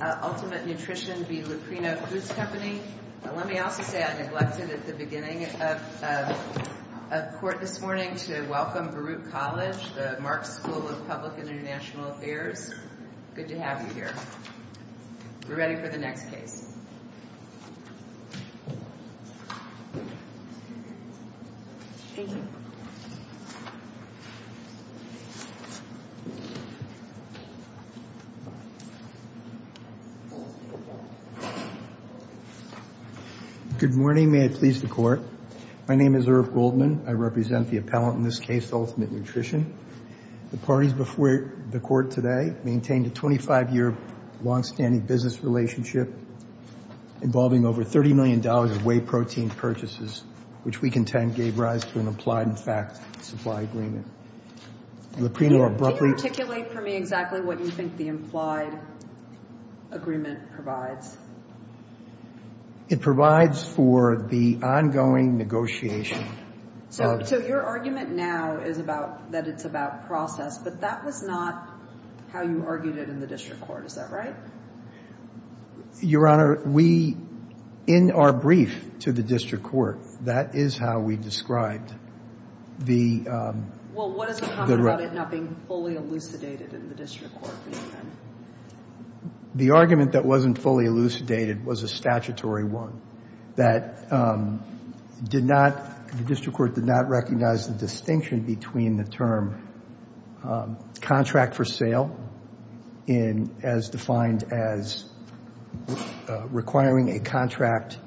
Let me also say I neglected at the beginning of court this morning to welcome Baruch College, the Marks School of Public and International Affairs. Good to have you here. We're ready for the next case. Good morning. May I please the Court. My name is Irv Goldman. I represent the appellant in this case, Ultimate Nutrition. The parties before the Court today maintained a 25-year longstanding business relationship involving over $30 million in whey protein purchases, which we contend gave rise to an implied and fact supply agreement. Can you articulate for me exactly what you think the implied agreement provides? It provides for the ongoing negotiation. So your argument now is that it's about process, but that was not how you argued it in the district court. Is that right? Your Honor, we, in our brief to the district court, that is how we described the... Well, what is the problem about it not being fully elucidated in the district court? The argument that wasn't fully elucidated was a statutory one that did not, the district court did not recognize the distinction between the term contract for sale as defined as requiring a contract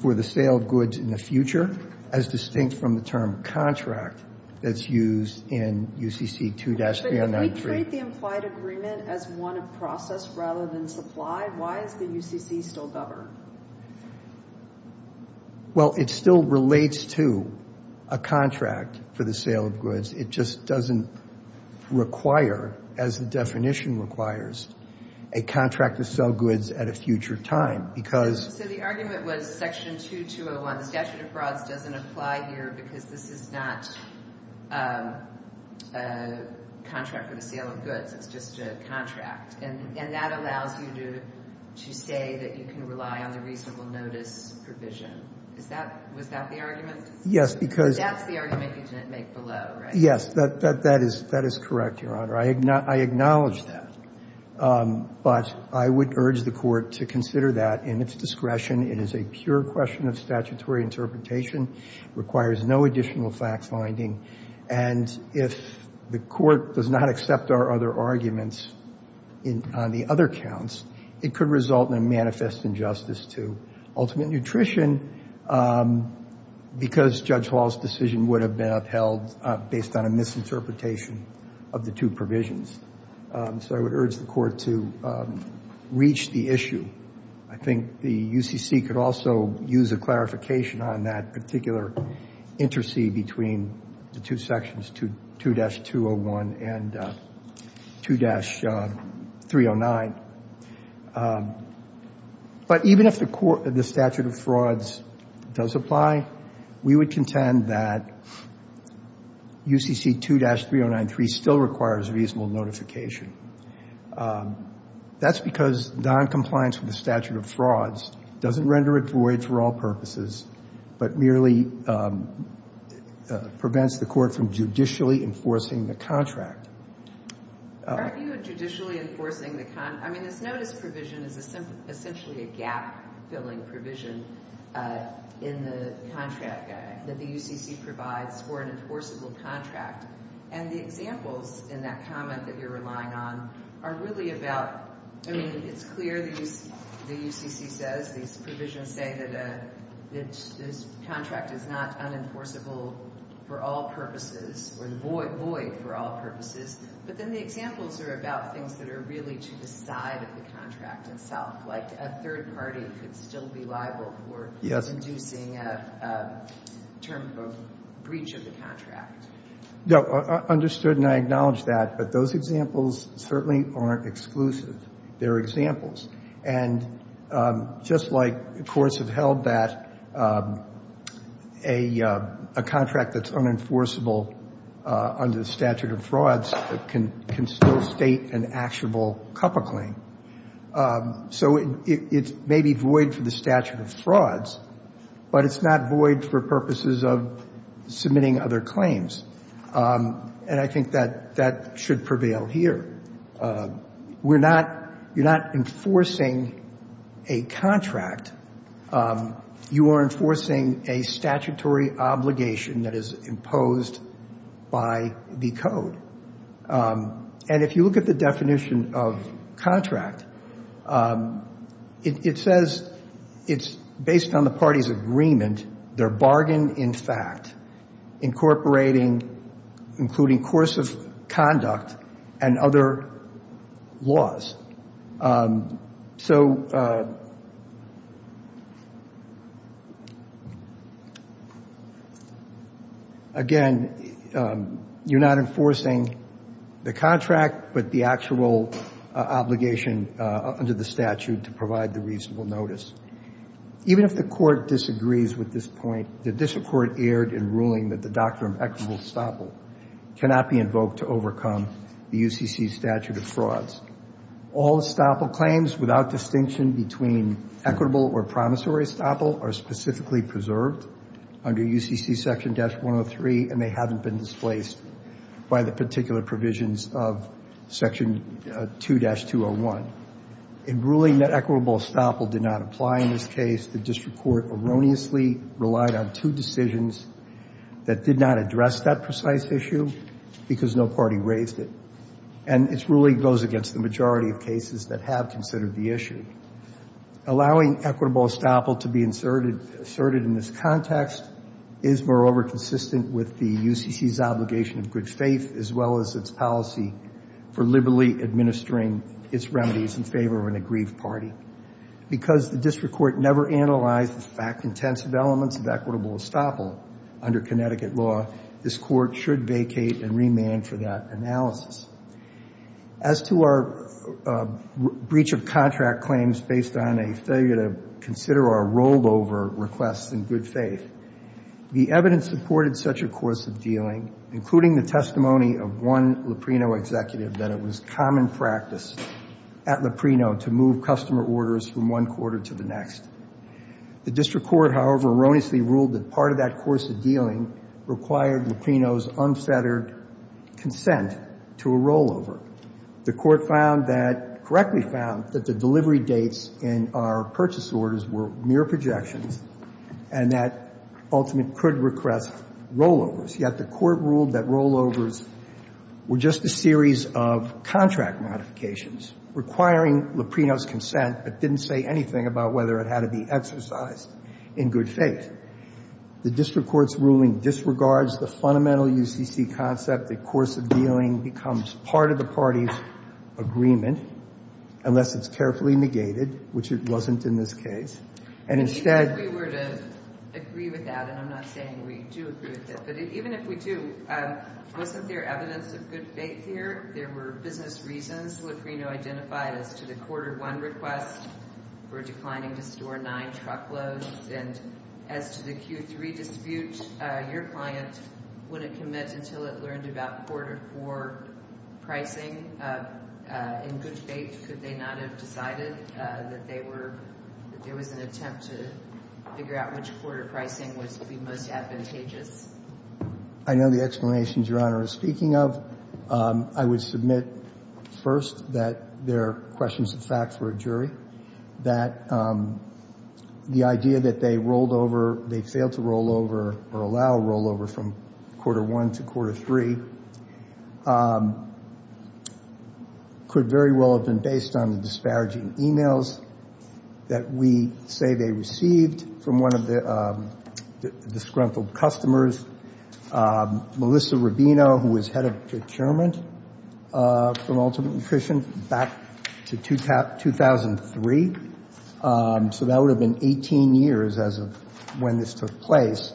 for the sale of goods in the future as distinct from the term contract that's used in UCC 2-393. If we treat the implied agreement as one of process rather than supply, why is the UCC still governed? Well, it still relates to a contract for the sale of goods. It just doesn't require, as the definition requires, a contract to sell goods at a future time because... So the argument was section 2201, the statute of frauds doesn't apply here because this is not a contract for the sale of goods. It's just a contract. And that allows you to say that you can rely on the reasonable notice provision. Is that, was that the argument? Yes, because... That's the argument you didn't make below, right? Yes, that is correct, Your Honor. I acknowledge that. But I would urge the court to consider that in its discretion. It is a pure question of statutory interpretation, requires no additional fact-finding. And if the court does not accept our other arguments on the other counts, it could result in a manifest injustice to ultimate nutrition because Judge Hall's decision would have been upheld based on a misinterpretation of the two provisions. So I would urge the court to reach the issue. I think the UCC could also use a clarification on that particular intercede between the two sections, 2-201 and 2-309. But even if the statute of frauds does apply, we would contend that UCC 2-3093 still requires reasonable notification. That's because noncompliance with the statute of frauds doesn't render it void for all purposes, but merely prevents the court from judicially enforcing the contract. Are you judicially enforcing the contract? I mean, this notice provision is essentially a gap-filling provision in the contract that the UCC provides for an enforceable contract. And the examples in that comment that you're relying on are really about — I mean, it's clear the UCC says, these provisions say that this contract is not unenforceable for all purposes or void for all purposes. But then the examples are about things that are really to the side of the contract itself, like a third party could still be liable for inducing a term of breach of the contract. No, understood, and I acknowledge that. But those examples certainly aren't exclusive. They're examples. And just like courts have held that a contract that's unenforceable under the statute of frauds can still state an actionable COPA claim. So it may be void for the statute of frauds, but it's not void for purposes of submitting other claims. And I think that that should prevail here. We're not — you're not enforcing a contract. You are enforcing a statutory obligation that is imposed by the code. And if you look at the definition of contract, it says it's based on the party's agreement, their bargain in fact, incorporating — including course of conduct and other laws. So, again, you're not enforcing the contract, but the actual obligation under the statute to provide the reasonable notice. Even if the court disagrees with this point, the district court erred in ruling that the doctrine of equitable estoppel cannot be invoked to overcome the UCC statute of frauds. All estoppel claims without distinction between equitable or promissory estoppel are specifically preserved under UCC section-103, and they haven't been displaced by the particular provisions of section 2-201. In ruling that equitable estoppel did not apply in this case, the district court erroneously relied on two decisions that did not address that precise issue because no party raised it. And its ruling goes against the majority of cases that have considered the issue. Allowing equitable estoppel to be inserted — asserted in this context is, moreover, consistent with the UCC's obligation of good faith, as well as its policy for liberally administering its remedies in favor of an aggrieved party. Because the district court never analyzed the fact-intensive elements of equitable estoppel under Connecticut law, this court should vacate and remand for that analysis. As to our breach of contract claims based on a failure to consider our rollover requests in good faith, the evidence supported such a course of dealing, including the testimony of one Luprino executive, that it was common practice at Luprino to move customer orders from one quarter to the next. The district court, however, erroneously ruled that part of that course of dealing required Luprino's unfettered consent to a rollover. The court found that — correctly found that the delivery dates in our purchase orders were mere projections and that, ultimately, could request rollovers. Yet the court ruled that rollovers were just a series of contract modifications requiring Luprino's consent but didn't say anything about whether it had to be exercised in good faith. The district court's ruling disregards the fundamental UCC concept that course of dealing becomes part of the party's agreement, unless it's carefully negated, which it wasn't in this case. And instead — If we were to agree with that, and I'm not saying we do agree with it, but even if we do, wasn't there evidence of good faith here? I know the explanations Your Honor is speaking of. I would submit first that there are questions of fact for a jury, that the idea that they rolled over — they failed to roll over or allow a rollover from quarter one to quarter three could very well have been based on the disparaging e-mails that we say they received from one of the disgruntled customers. Melissa Rubino, who was head of procurement for Ultimate Nutrition back to 2003, so that would have been 18 years as of when this took place,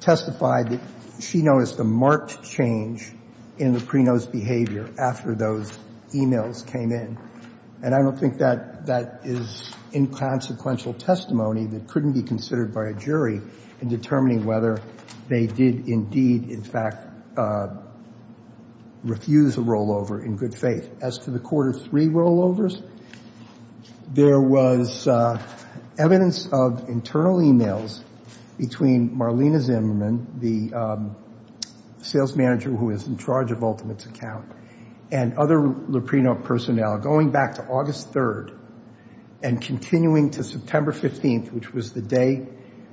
testified that she noticed a marked change in Luprino's behavior after those e-mails came in. And I don't think that that is inconsequential testimony that couldn't be considered by a jury in determining whether they did indeed, in fact, refuse a rollover in good faith. As to the quarter three rollovers, there was evidence of internal e-mails between Marlena Zimmerman, the sales manager who is in charge of Ultimate's account, and other Luprino personnel going back to August 3rd and continuing to September 15th, which was the day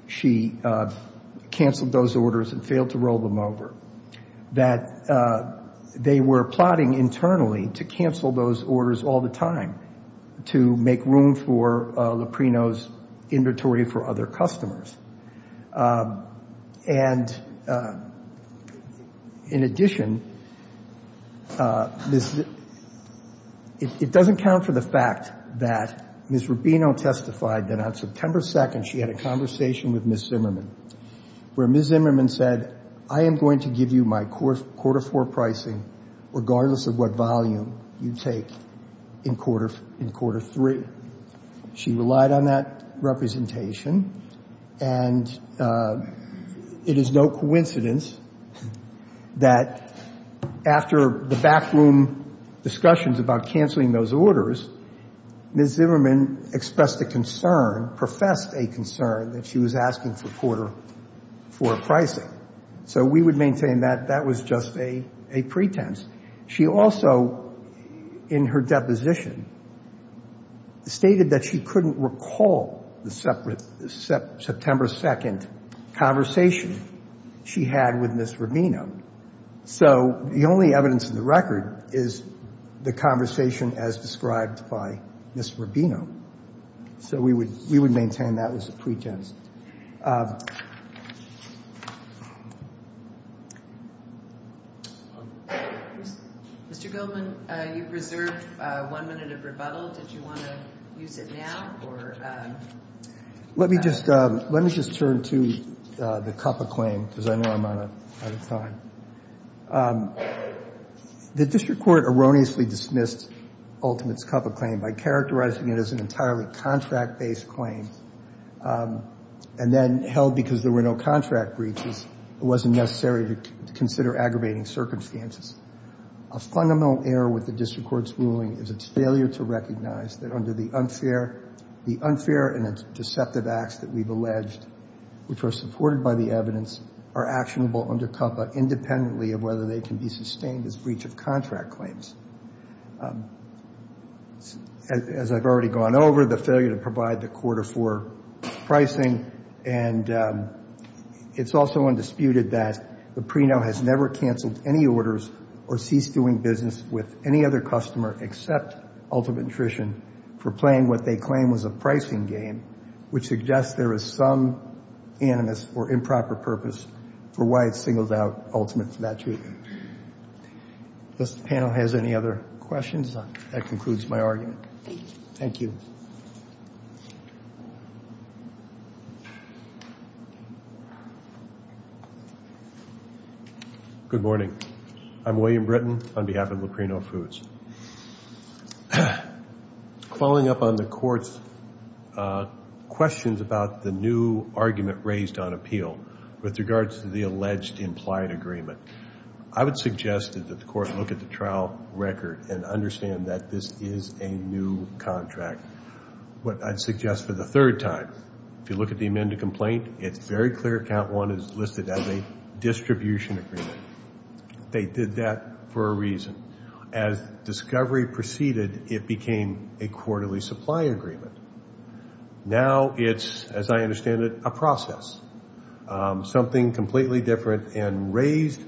she canceled those orders and failed to roll them over, that they were plotting internally to cancel those orders all the time to make room for Luprino's inventory for other customers. And in addition, it doesn't count for the fact that Ms. Rubino testified that on September 2nd, she had a conversation with Ms. Zimmerman, where Ms. Zimmerman said, that I am going to give you my quarter four pricing regardless of what volume you take in quarter three. She relied on that representation, and it is no coincidence that after the backroom discussions about canceling those orders, Ms. Zimmerman expressed a concern, professed a concern that she was asking for quarter four pricing. So we would maintain that that was just a pretense. She also, in her deposition, stated that she couldn't recall the September 2nd conversation she had with Ms. Rubino. So the only evidence in the record is the conversation as described by Ms. Rubino. So we would maintain that was a pretense. Mr. Goldman, you've reserved one minute of rebuttal. Did you want to use it now? Let me just turn to the CUPA claim, because I know I'm out of time. The district court erroneously dismissed Ultimate's CUPA claim by characterizing it as an entirely contract-based claim, and then held because there were no contract breaches, it wasn't necessary to consider aggravating circumstances. A fundamental error with the district court's ruling is its failure to recognize that under the unfair and deceptive acts that we've alleged, which are supported by the evidence, are actionable under CUPA independently of whether they can be sustained as breach of contract claims. As I've already gone over, the failure to provide the quarter four pricing, and it's also undisputed that the pre-no has never canceled any orders or ceased doing business with any other customer except Ultimate Nutrition for playing what they claim was a pricing game, which suggests there is some animus or improper purpose for why it's singled out Ultimate for that treatment. Does the panel have any other questions? That concludes my argument. Thank you. Good morning. I'm William Britton on behalf of Lucrino Foods. Following up on the court's questions about the new argument raised on appeal with regards to the alleged implied agreement, I would suggest that the court look at the trial record and understand that this is a new contract. What I'd suggest for the third time, if you look at the amended complaint, it's very clear count one is listed as a distribution agreement. They did that for a reason. As discovery proceeded, it became a quarterly supply agreement. Now it's, as I understand it, a process. Something completely different and raised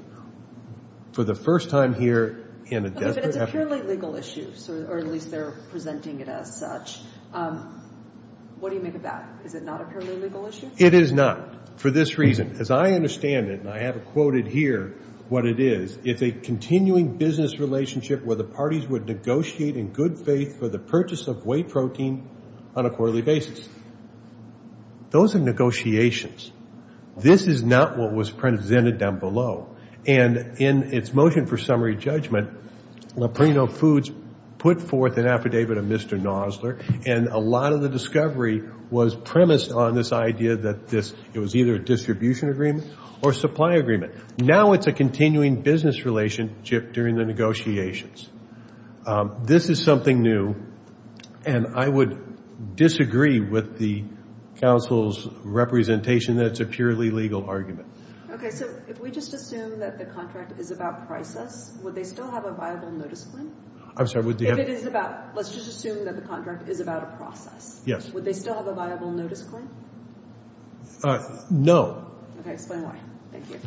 for the first time here in a desperate effort to or at least they're presenting it as such. What do you make of that? Is it not a purely legal issue? It is not for this reason. As I understand it, and I have it quoted here what it is, it's a continuing business relationship where the parties would negotiate in good faith for the purchase of whey protein on a quarterly basis. Those are negotiations. This is not what was presented down below. And in its motion for summary judgment, Lucrino Foods put forth an affidavit of Mr. Nosler and a lot of the discovery was premised on this idea that it was either a distribution agreement or supply agreement. Now it's a continuing business relationship during the negotiations. This is something new, and I would disagree with the counsel's representation that it's a purely legal argument. Okay, so if we just assume that the contract is about prices, would they still have a viable notice claim? I'm sorry, would the If it is about, let's just assume that the contract is about a process. Yes. Would they still have a viable notice claim? No. Okay, explain why. Thank you.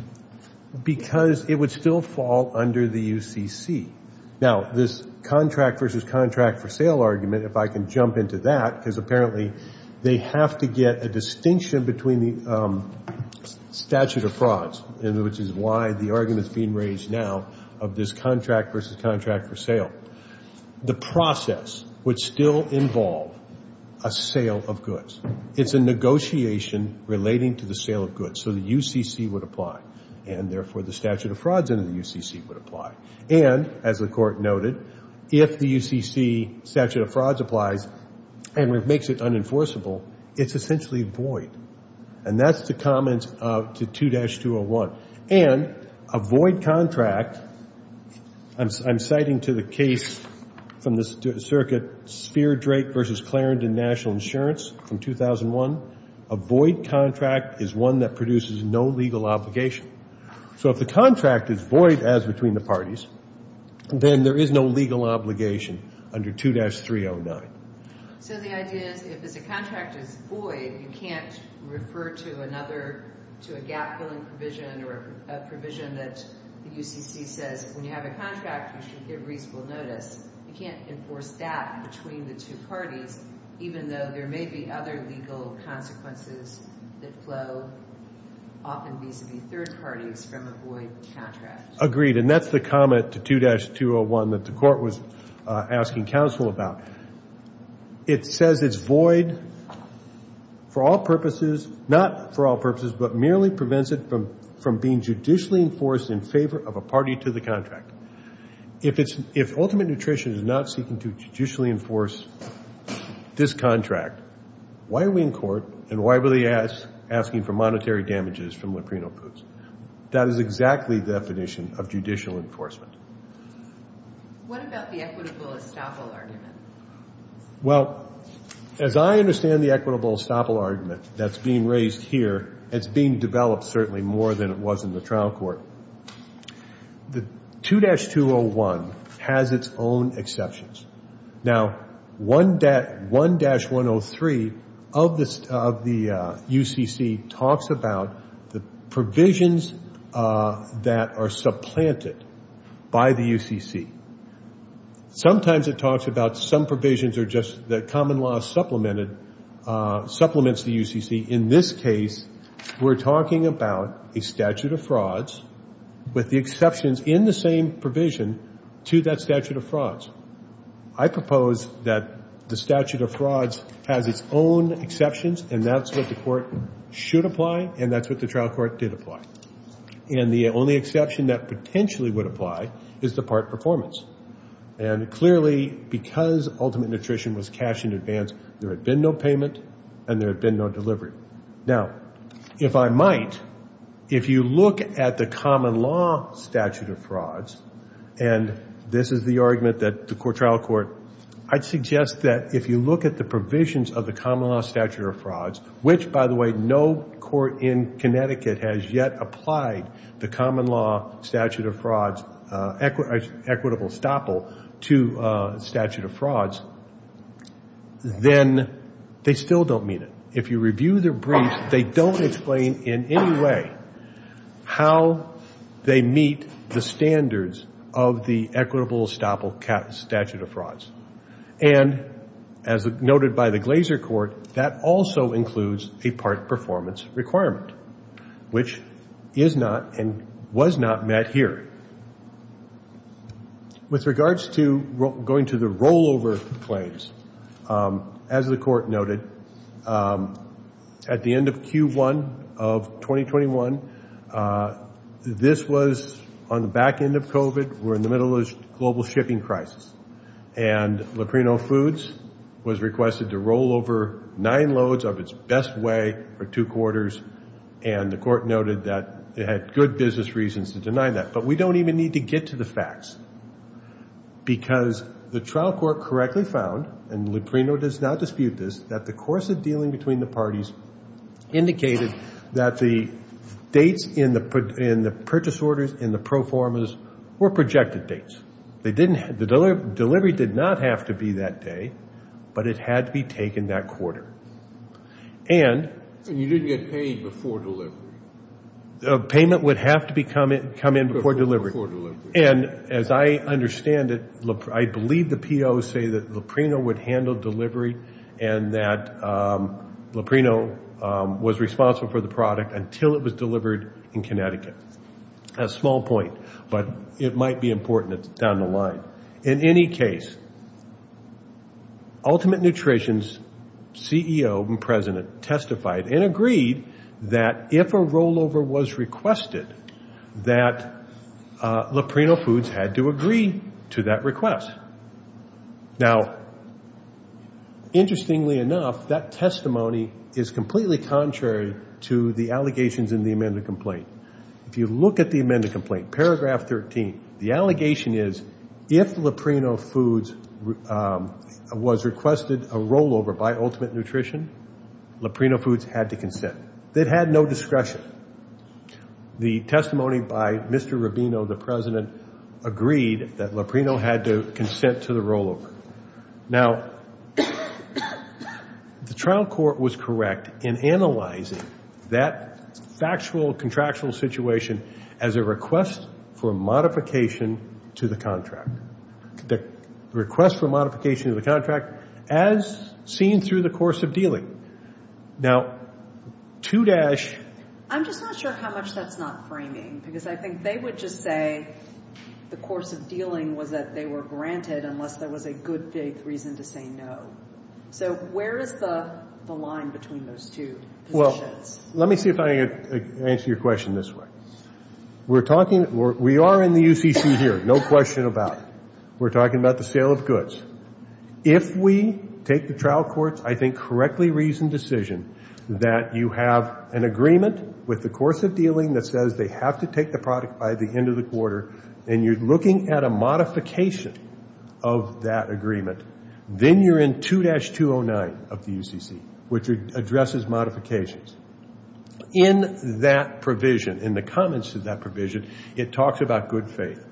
Because it would still fall under the UCC. Now, this contract versus contract for sale argument, if I can jump into that, because apparently they have to get a distinction between the statute of frauds, which is why the argument is being raised now of this contract versus contract for sale. The process would still involve a sale of goods. It's a negotiation relating to the sale of goods. So the UCC would apply, and therefore the statute of frauds under the UCC would apply. And, as the Court noted, if the UCC statute of frauds applies and makes it unenforceable, it's essentially void. And that's the comment to 2-201. And a void contract, I'm citing to the case from the circuit Spheer-Drake v. Clarendon National Insurance from 2001, a void contract is one that produces no legal obligation. So if the contract is void as between the parties, then there is no legal obligation under 2-309. So the idea is, if the contract is void, you can't refer to another, to a gap-filling provision or a provision that the UCC says, when you have a contract, you should give reasonable notice. You can't enforce that between the two parties, even though there may be other legal consequences that flow, often vis-a-vis third parties, from a void contract. Agreed, and that's the comment to 2-201 that the Court was asking counsel about. It says it's void for all purposes, not for all purposes, but merely prevents it from being judicially enforced in favor of a party to the contract. If ultimate nutrition is not seeking to judicially enforce this contract, why are we in court and why were they asking for monetary damages from Leprena Foods? That is exactly the definition of judicial enforcement. What about the equitable estoppel argument? Well, as I understand the equitable estoppel argument that's being raised here, it's being developed certainly more than it was in the trial court. The 2-201 has its own exceptions. Now, 1-103 of the UCC talks about the provisions that are supplanted by the UCC. Sometimes it talks about some provisions are just that common law supplemented, supplements the UCC. In this case, we're talking about a statute of frauds with the exceptions in the same provision to that statute of frauds. I propose that the statute of frauds has its own exceptions, and that's what the Court should apply, and that's what the trial court did apply. And the only exception that potentially would apply is the part performance. And clearly, because Ultimate Nutrition was cashed in advance, there had been no payment and there had been no delivery. Now, if I might, if you look at the common law statute of frauds, and this is the argument that the trial court, I'd suggest that if you look at the provisions of the common law statute of frauds, which, by the way, no court in Connecticut has yet applied the common law statute of frauds, equitable estoppel to statute of frauds, then they still don't meet it. If you review their briefs, they don't explain in any way how they meet the standards of the equitable estoppel statute of frauds. And as noted by the Glaser Court, that also includes a part performance requirement, which is not and was not met here. With regards to going to the rollover claims, as the Court noted, at the end of Q1 of 2021, this was on the back end of COVID. We're in the middle of a global shipping crisis. And Luprino Foods was requested to rollover nine loads of its best way for two quarters, and the Court noted that it had good business reasons to deny that. But we don't even need to get to the facts because the trial court correctly found, and Luprino does not dispute this, that the course of dealing between the parties indicated that the dates in the purchase orders in the pro formas were projected dates. The delivery did not have to be that day, but it had to be taken that quarter. And you didn't get paid before delivery. Payment would have to come in before delivery. And as I understand it, I believe the POs say that Luprino would handle delivery and that Luprino was responsible for the product until it was delivered in Connecticut. A small point, but it might be important down the line. In any case, Ultimate Nutrition's CEO and President testified and agreed that if a rollover was requested, that Luprino Foods had to agree to that request. Now, interestingly enough, that testimony is completely contrary to the allegations in the amended complaint. If you look at the amended complaint, paragraph 13, the allegation is if Luprino Foods was requested a rollover by Ultimate Nutrition, Luprino Foods had to consent. They'd had no discretion. The testimony by Mr. Rubino, the president, agreed that Luprino had to consent to the rollover. Now, the trial court was correct in analyzing that factual contractual situation as a request for modification to the contract. The request for modification to the contract as seen through the course of dealing. Now, 2- I'm just not sure how much that's not framing, because I think they would just say the course of dealing was that they were granted unless there was a good faith reason to say no. So where is the line between those two positions? Well, let me see if I can answer your question this way. We are in the UCC here, no question about it. We're talking about the sale of goods. If we take the trial court's, I think, correctly reasoned decision that you have an agreement with the course of dealing that says they have to take the product by the end of the quarter, and you're looking at a modification of that agreement, then you're in 2-209 of the UCC, which addresses modifications. In that provision, in the comments to that provision, it talks about good faith.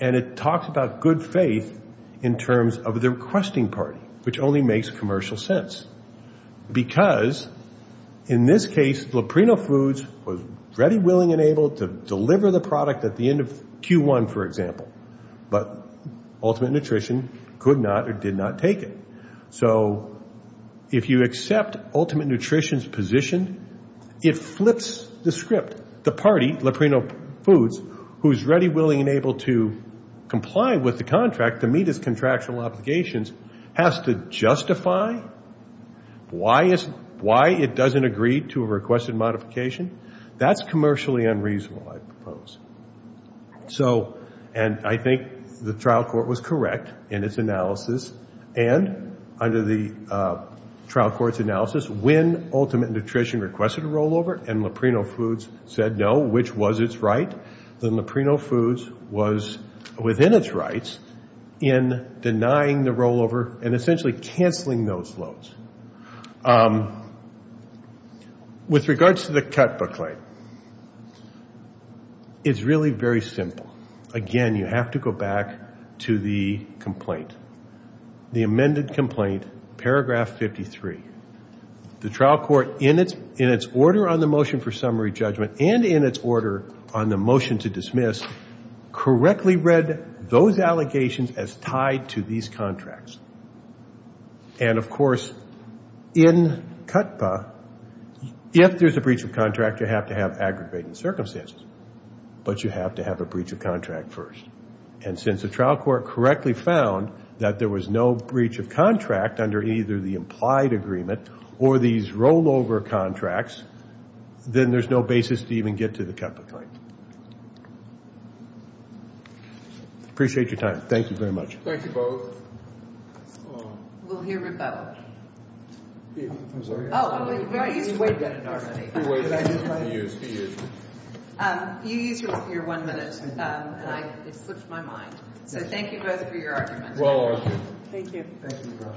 And it talks about good faith in terms of the requesting party, which only makes commercial sense. Because in this case, Loprino Foods was ready, willing, and able to deliver the product at the end of Q1, for example. But Ultimate Nutrition could not or did not take it. So if you accept Ultimate Nutrition's position, it flips the script. The party, Loprino Foods, who's ready, willing, and able to comply with the contract to meet its contractual obligations, has to justify why it doesn't agree to a requested modification? That's commercially unreasonable, I propose. And I think the trial court was correct in its analysis. And under the trial court's analysis, when Ultimate Nutrition requested a rollover and Loprino Foods said no, which was its right, then Loprino Foods was within its rights in denying the rollover and essentially canceling those loads. With regards to the Cutbook claim, it's really very simple. Again, you have to go back to the complaint, the amended complaint, paragraph 53. The trial court, in its order on the motion for summary judgment and in its order on the motion to dismiss, correctly read those allegations as tied to these contracts. And, of course, in CUTPA, if there's a breach of contract, you have to have aggravating circumstances. But you have to have a breach of contract first. And since the trial court correctly found that there was no breach of contract under either the implied agreement or these rollover contracts, then there's no basis to even get to the Cutbook claim. Appreciate your time. Thank you very much. Thank you, both. We'll hear from both. I'm sorry. Oh, you might need to wait a minute already. You use your one minute. It slipped my mind. So thank you both for your arguments. Well argued. Thank you.